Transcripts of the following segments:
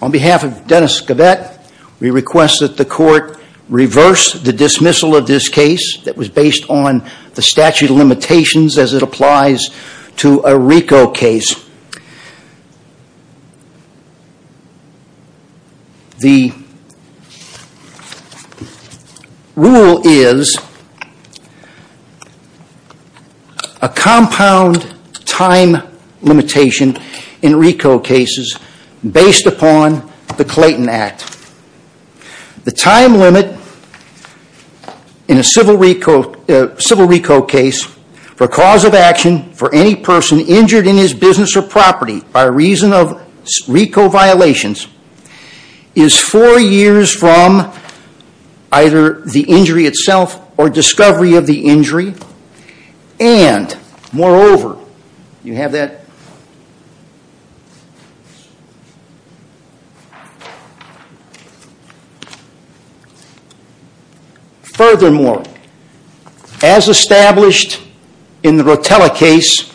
On behalf of Dennis Geivett, we request that the court reverse the dismissal of this case that was based on the statute of limitations as it applies to a RICO case. The rule is a compound time limitation in RICO cases based upon the Clayton Act. The time limit in a civil RICO case for cause of action for any person injured in his business or property by reason of RICO violations is four years from either the injury itself or discovery of the injury. Furthermore, as established in the Rotella case,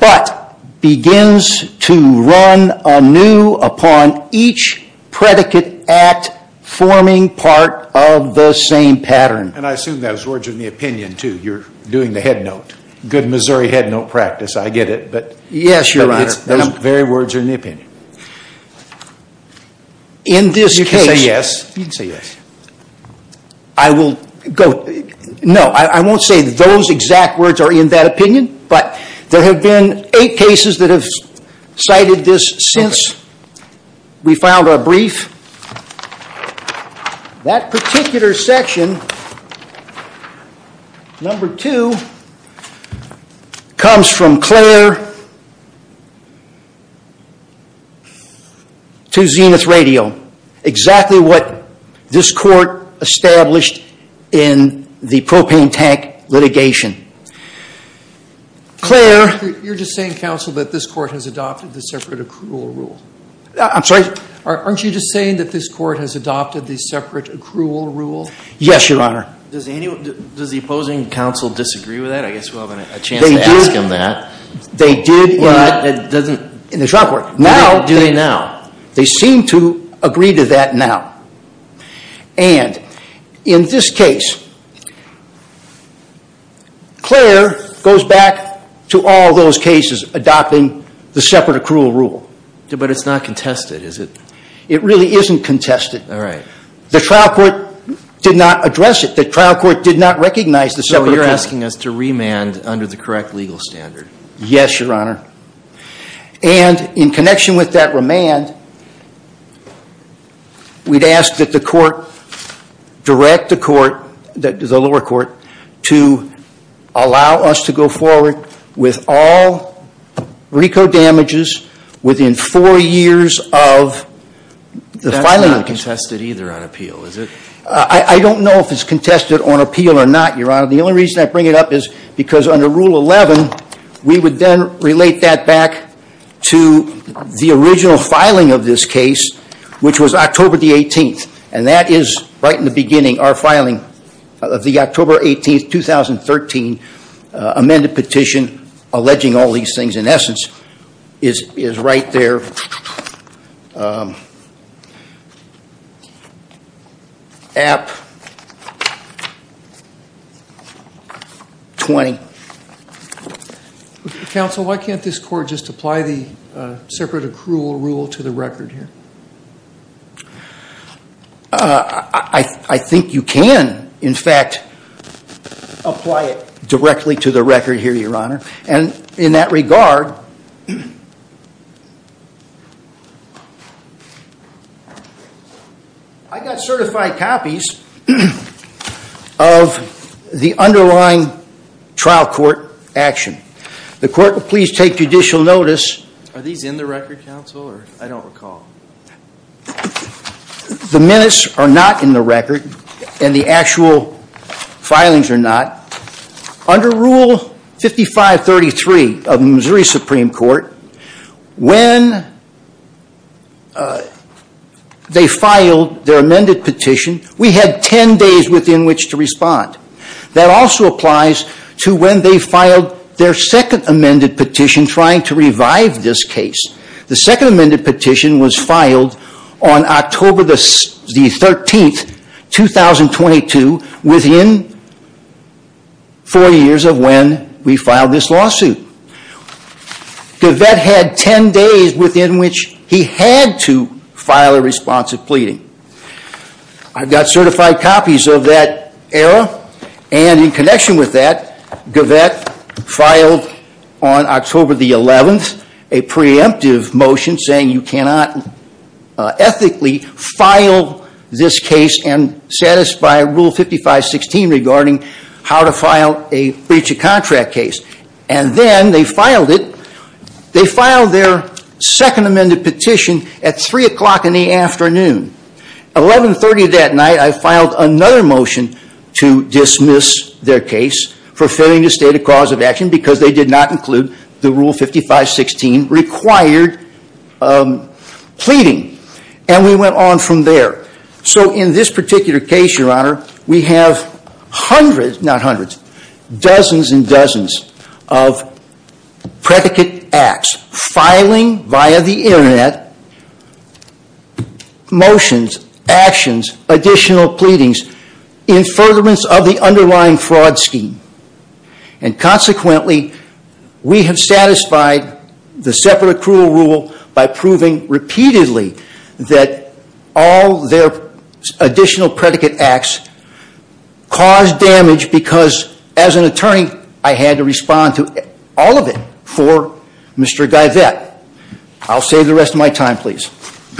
but begins to run anew upon each predicate act forming part of the same pattern. And I assume those words are in the opinion, too. You're doing the headnote. Good Missouri headnote practice, I get it. Yes, Your Honor. Those very words are in the opinion. In this case... You can say yes. You can say yes. I will go... No, I won't say those exact words are in that opinion, but there have been eight cases that have cited this since we filed our brief. That particular section, number two, comes from Clare to Zenith Radio. Exactly what this court established in the propane tank litigation. Clare... You're just saying, counsel, that this court has adopted the separate accrual rule. I'm sorry? Aren't you just saying that this court has adopted the separate accrual rule? Yes, Your Honor. Does the opposing counsel disagree with that? I guess we'll have a chance to ask him that. They did in the trial court. Do they now? They seem to agree to that now. And in this case, Clare goes back to all those cases adopting the separate accrual rule. But it's not contested, is it? It really isn't contested. All right. The trial court did not address it. The trial court did not recognize the separate accrual rule. So you're asking us to remand under the correct legal standard. Yes, Your Honor. And in connection with that remand, we'd ask that the court direct the court, the lower court, to allow us to go forward with all RICO damages within four years of the filing. That's not contested either on appeal, is it? I don't know if it's contested on appeal or not, Your Honor. The only reason I bring it up is because under Rule 11, we would then relate that back to the original filing of this case, which was October the 18th. And that is right in the beginning, our filing of the October 18th, 2013, amended petition, alleging all these things, in essence, is right there at 20. Counsel, why can't this court just apply the separate accrual rule to the record here? I think you can, in fact, apply it directly to the record here, Your Honor. And in that regard, I got certified copies of the underlying trial court action. The court will please take judicial notice. Are these in the record, counsel, or I don't recall? The minutes are not in the record, and the actual filings are not. Under Rule 5533 of the Missouri Supreme Court, when they filed their amended petition, we had 10 days within which to respond. That also applies to when they filed their second amended petition trying to revive this case. The second amended petition was filed on October the 13th, 2022, within four years of when we filed this lawsuit. Gavette had 10 days within which he had to file a response of pleading. I've got certified copies of that error, and in connection with that, Gavette filed on October the 11th a preemptive motion saying you cannot ethically file this case and satisfy Rule 5516 regarding how to file a breach of contract case. And then they filed it. They filed their second amended petition at 3 o'clock in the afternoon. 1130 that night, I filed another motion to dismiss their case for failing to state a cause of action because they did not include the Rule 5516 required pleading. And we went on from there. So in this particular case, Your Honor, we have hundreds, not hundreds, dozens and dozens of predicate acts filing via the Internet motions, actions, additional pleadings in furtherance of the underlying fraud scheme. And consequently, we have satisfied the separate accrual rule by proving repeatedly that all their additional predicate acts caused damage because as an attorney, I had to respond to all of it for Mr. Gavette. I'll save the rest of my time, please.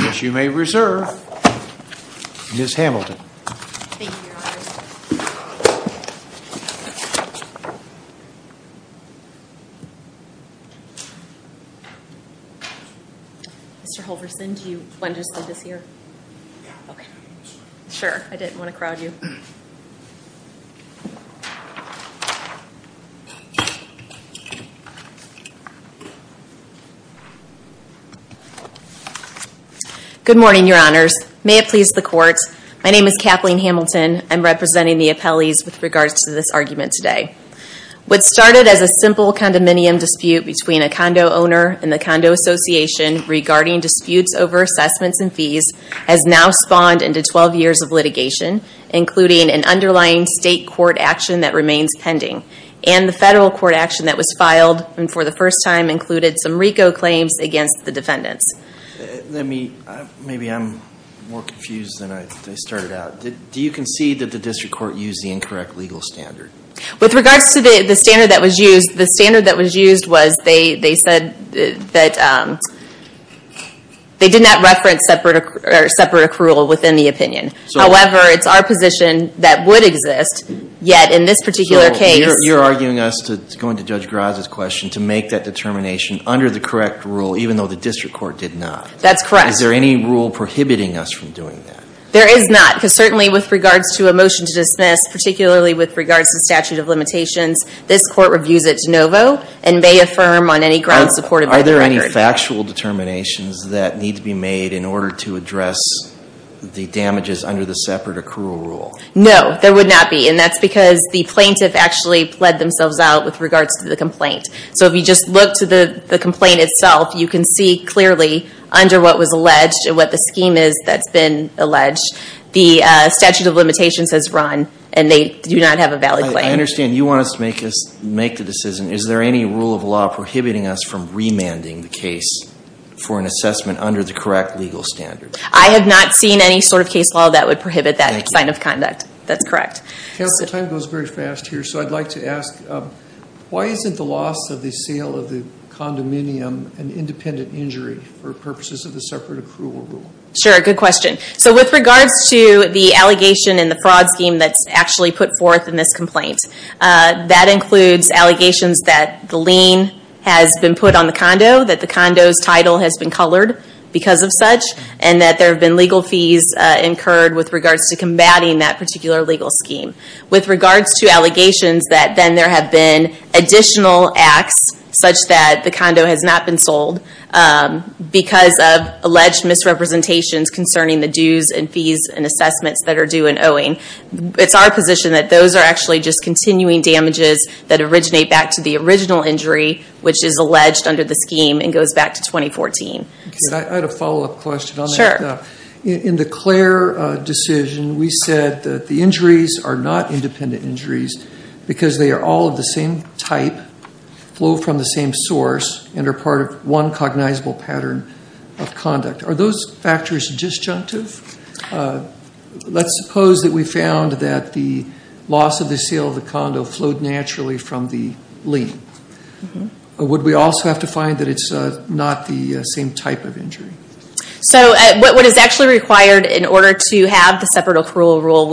As you may reserve, Ms. Hamilton. Thank you, Your Honor. Mr. Holverson, do you want to just leave us here? Okay. Sure, I didn't want to crowd you. Good morning, Your Honors. May it please the Court, my name is Kathleen Hamilton. I'm representing the appellees with regards to this argument today. What started as a simple condominium dispute between a condo owner and the condo association regarding disputes over assessments and fees has now spawned into 12 years of litigation, including an underlying state court action that remains pending and the federal court action that was filed and for the first time included some RICO claims against the defendants. Maybe I'm more confused than I started out. Do you concede that the district court used the incorrect legal standard? With regards to the standard that was used, the standard that was used was they said that they did not reference separate accrual within the opinion. However, it's our position that would exist, yet in this particular case. So you're arguing us to go into Judge Graza's question to make that determination under the correct rule, even though the district court did not. That's correct. Is there any rule prohibiting us from doing that? There is not, because certainly with regards to a motion to dismiss, particularly with regards to statute of limitations, this court reviews it de novo and may affirm on any grounds supportive of the record. Are there any factual determinations that need to be made in order to address the damages under the separate accrual rule? No, there would not be, and that's because the plaintiff actually pled themselves out with regards to the complaint. So if you just look to the complaint itself, you can see clearly under what was alleged and what the scheme is that's been alleged, the statute of limitations has run, and they do not have a valid claim. I understand you want us to make the decision. Is there any rule of law prohibiting us from remanding the case for an assessment under the correct legal standard? I have not seen any sort of case law that would prohibit that sign of conduct. Thank you. That's correct. The time goes very fast here, so I'd like to ask, why isn't the loss of the sale of the condominium an independent injury for purposes of the separate accrual rule? Sure, good question. So with regards to the allegation and the fraud scheme that's actually put forth in this complaint, that includes allegations that the lien has been put on the condo, that the condo's title has been colored because of such, and that there have been legal fees incurred with regards to combating that particular legal scheme. With regards to allegations that then there have been additional acts such that the condo has not been sold because of alleged misrepresentations concerning the dues and fees and assessments that are due and owing. It's our position that those are actually just continuing damages that originate back to the original injury, which is alleged under the scheme and goes back to 2014. I had a follow-up question on that. In the Clare decision, we said that the injuries are not independent injuries because they are all of the same type, flow from the same source, and are part of one cognizable pattern of conduct. Are those factors disjunctive? Let's suppose that we found that the loss of the sale of the condo flowed naturally from the lien. Would we also have to find that it's not the same type of injury? So what is actually required in order to have the separate accrual rule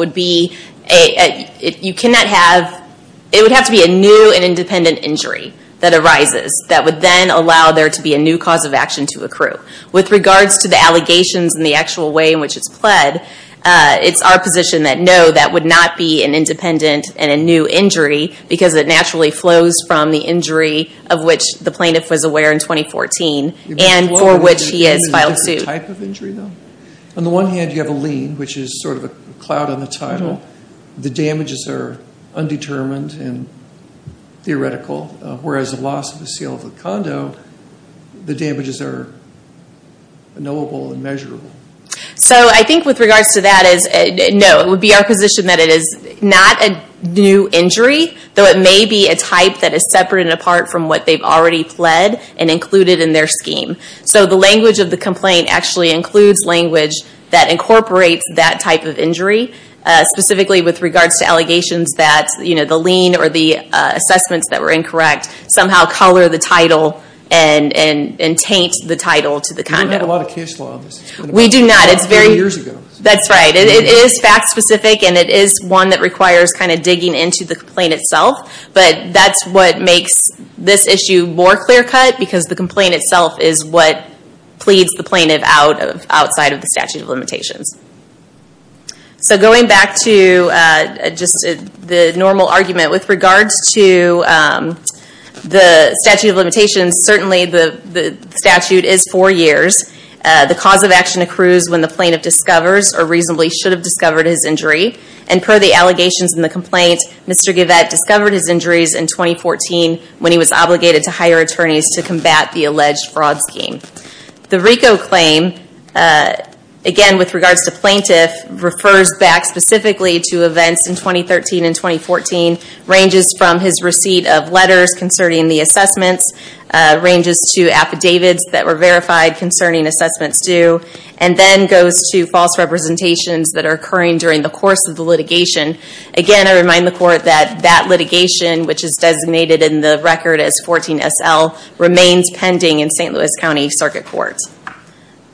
it would have to be a new and independent injury that arises that would then allow there to be a new cause of action to accrue. With regards to the allegations and the actual way in which it's pled, it's our position that no, that would not be an independent and a new injury because it naturally flows from the injury of which the plaintiff was aware in 2014 and for which he has filed suit. On the one hand, you have a lien, which is sort of a cloud on the title. The damages are undetermined and theoretical, whereas the loss of the sale of the condo, the damages are knowable and measurable. So I think with regards to that, no, it would be our position that it is not a new injury, though it may be a type that is separate and apart from what they've already pled and included in their scheme. So the language of the complaint actually includes language that incorporates that type of injury, specifically with regards to allegations that the lien or the assessments that were incorrect somehow color the title and taint the title to the condo. We don't have a lot of case law on this. We do not. It's been about 30 years ago. That's right. It is fact-specific, and it is one that requires kind of digging into the complaint itself, but that's what makes this issue more clear-cut because the complaint itself is what pleads the plaintiff outside of the statute of limitations. So going back to just the normal argument, with regards to the statute of limitations, certainly the statute is four years. The cause of action accrues when the plaintiff discovers or reasonably should have discovered his injury, and per the allegations in the complaint, Mr. Givette discovered his injuries in 2014 when he was obligated to hire attorneys to combat the alleged fraud scheme. The RICO claim, again, with regards to plaintiff, refers back specifically to events in 2013 and 2014, ranges from his receipt of letters concerning the assessments, ranges to affidavits that were verified concerning assessments due, and then goes to false representations that are occurring during the course of the litigation. Again, I remind the Court that that litigation, which is designated in the record as 14SL, remains pending in St. Louis County Circuit Court.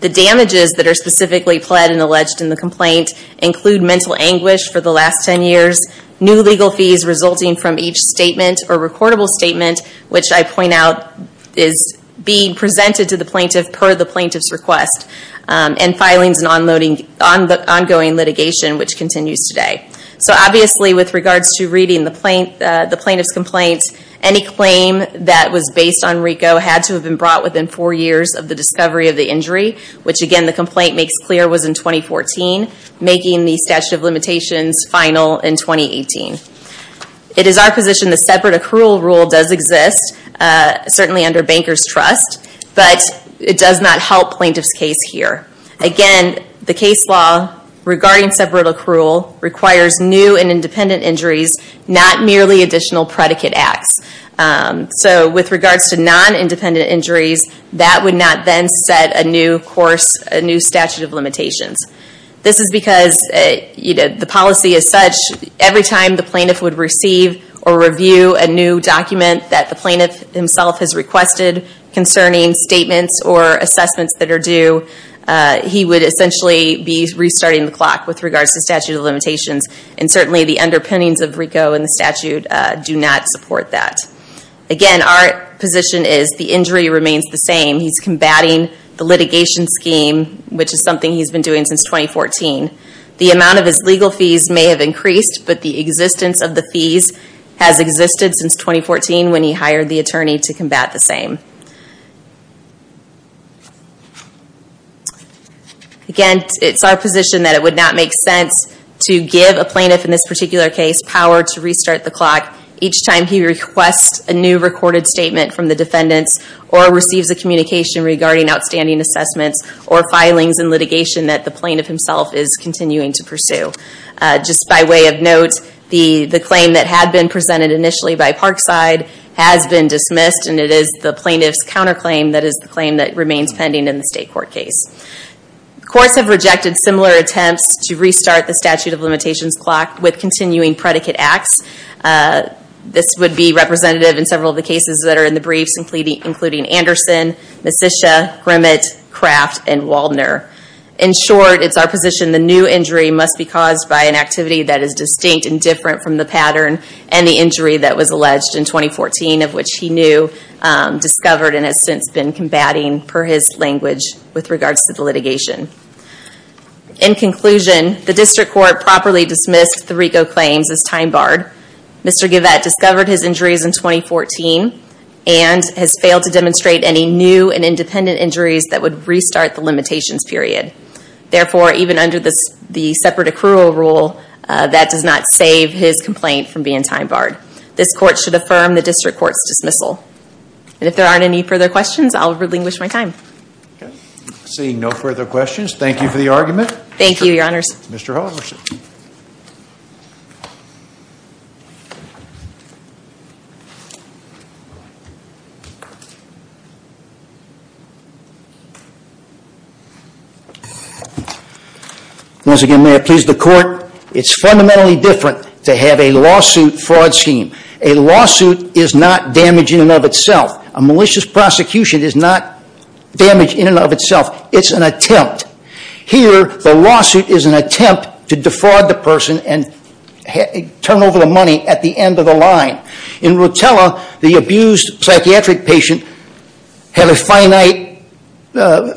The damages that are specifically pled and alleged in the complaint include mental anguish for the last 10 years, new legal fees resulting from each statement or recordable statement, which I point out is being presented to the plaintiff per the plaintiff's request, and filings and ongoing litigation, which continues today. So obviously, with regards to reading the plaintiff's complaint, any claim that was based on RICO had to have been brought within four years of the discovery of the injury, which, again, the complaint makes clear was in 2014, making the statute of limitations final in 2018. It is our position the separate accrual rule does exist, certainly under bankers' trust, but it does not help plaintiff's case here. Again, the case law regarding separate accrual requires new and independent injuries, not merely additional predicate acts. So with regards to non-independent injuries, that would not then set a new statute of limitations. This is because the policy is such every time the plaintiff would receive or review a new document that the plaintiff himself has requested concerning statements or assessments that are due, he would essentially be restarting the clock with regards to statute of limitations, and certainly the underpinnings of RICO and the statute do not support that. Again, our position is the injury remains the same. He's combating the litigation scheme, which is something he's been doing since 2014. The amount of his legal fees may have increased, but the existence of the fees has existed since 2014 when he hired the attorney to combat the same. Again, it's our position that it would not make sense to give a plaintiff in this particular case power to restart the clock each time he requests a new recorded statement from the defendants or receives a communication regarding outstanding assessments or filings in litigation that the plaintiff himself is continuing to pursue. Just by way of note, the claim that had been presented initially by Parkside has been dismissed, and it is the plaintiff's counterclaim that is the claim that remains pending in the state court case. Courts have rejected similar attempts to restart the statute of limitations clock with continuing predicate acts. This would be representative in several of the cases that are in the briefs, including Anderson, Messitia, Grimmett, Kraft, and Waldner. In short, it's our position the new injury must be caused by an activity that is distinct and different from the pattern and the injury that was alleged in 2014, of which he knew, discovered, and has since been combating per his language with regards to the litigation. In conclusion, the district court properly dismissed the RICO claims as time barred. Mr. Givette discovered his injuries in 2014 and has failed to demonstrate any new and independent injuries that would restart the limitations period. Therefore, even under the separate accrual rule, that does not save his complaint from being time barred. This court should affirm the district court's dismissal. And if there aren't any further questions, I'll relinquish my time. Seeing no further questions, thank you for the argument. Thank you, your honors. Once again, may I please the court? It's fundamentally different to have a lawsuit fraud scheme. A lawsuit is not damage in and of itself. A malicious prosecution is not damage in and of itself. It's an attempt. Here, the lawsuit is an attempt to defraud the person and turn over the money at the end of the line. In Rotella, the abused psychiatric patient had a finite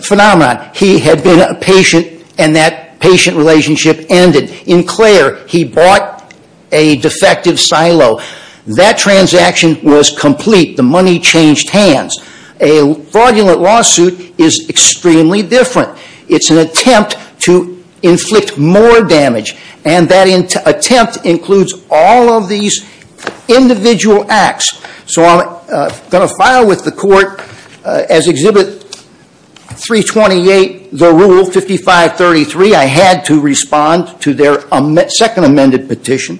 phenomenon. He had been a patient and that patient relationship ended. In Clare, he bought a defective silo. That transaction was complete. The money changed hands. A fraudulent lawsuit is extremely different. It's an attempt to inflict more damage. And that attempt includes all of these individual acts. So I'm going to file with the court as Exhibit 328, the Rule 5533. I had to respond to their second amended petition.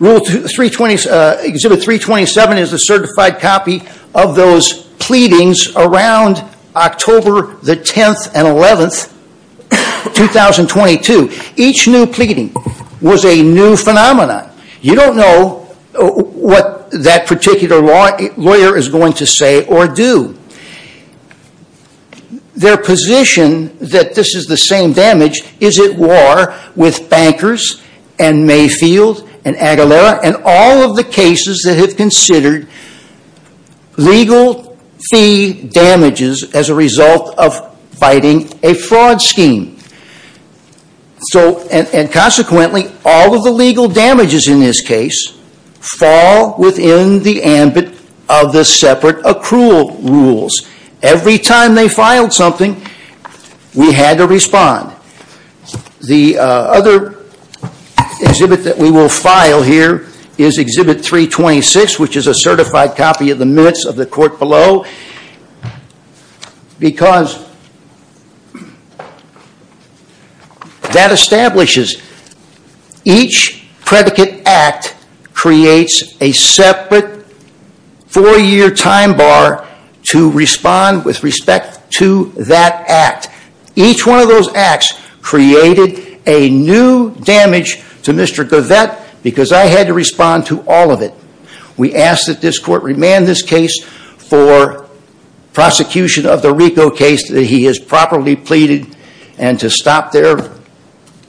Exhibit 327 is a certified copy of those pleadings around October the 10th and 11th, 2022. Each new pleading was a new phenomenon. You don't know what that particular lawyer is going to say or do. Their position that this is the same damage is at war with bankers and Mayfield and Aguilera and all of the cases that have considered legal fee damages as a result of fighting a fraud scheme. And consequently, all of the legal damages in this case fall within the ambit of the separate accrual rules. Every time they filed something, we had to respond. The other exhibit that we will file here is Exhibit 326 which is a certified copy of the minutes of the court below. Because that establishes each predicate act creates a separate four year time bar to respond with respect to that act. Each one of those acts created a new damage to Mr. Govette because I had to respond to all of it. We ask that this court remand this case for prosecution of the RICO case that he has properly pleaded and to stop their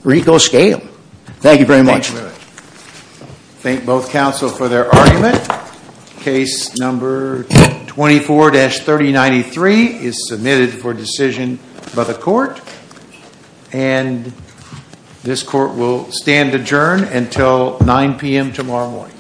RICO scale. Thank you very much. Thank both counsel for their argument. Case number 24-3093 is submitted for decision by the court. And this court will stand adjourned until 9pm tomorrow morning.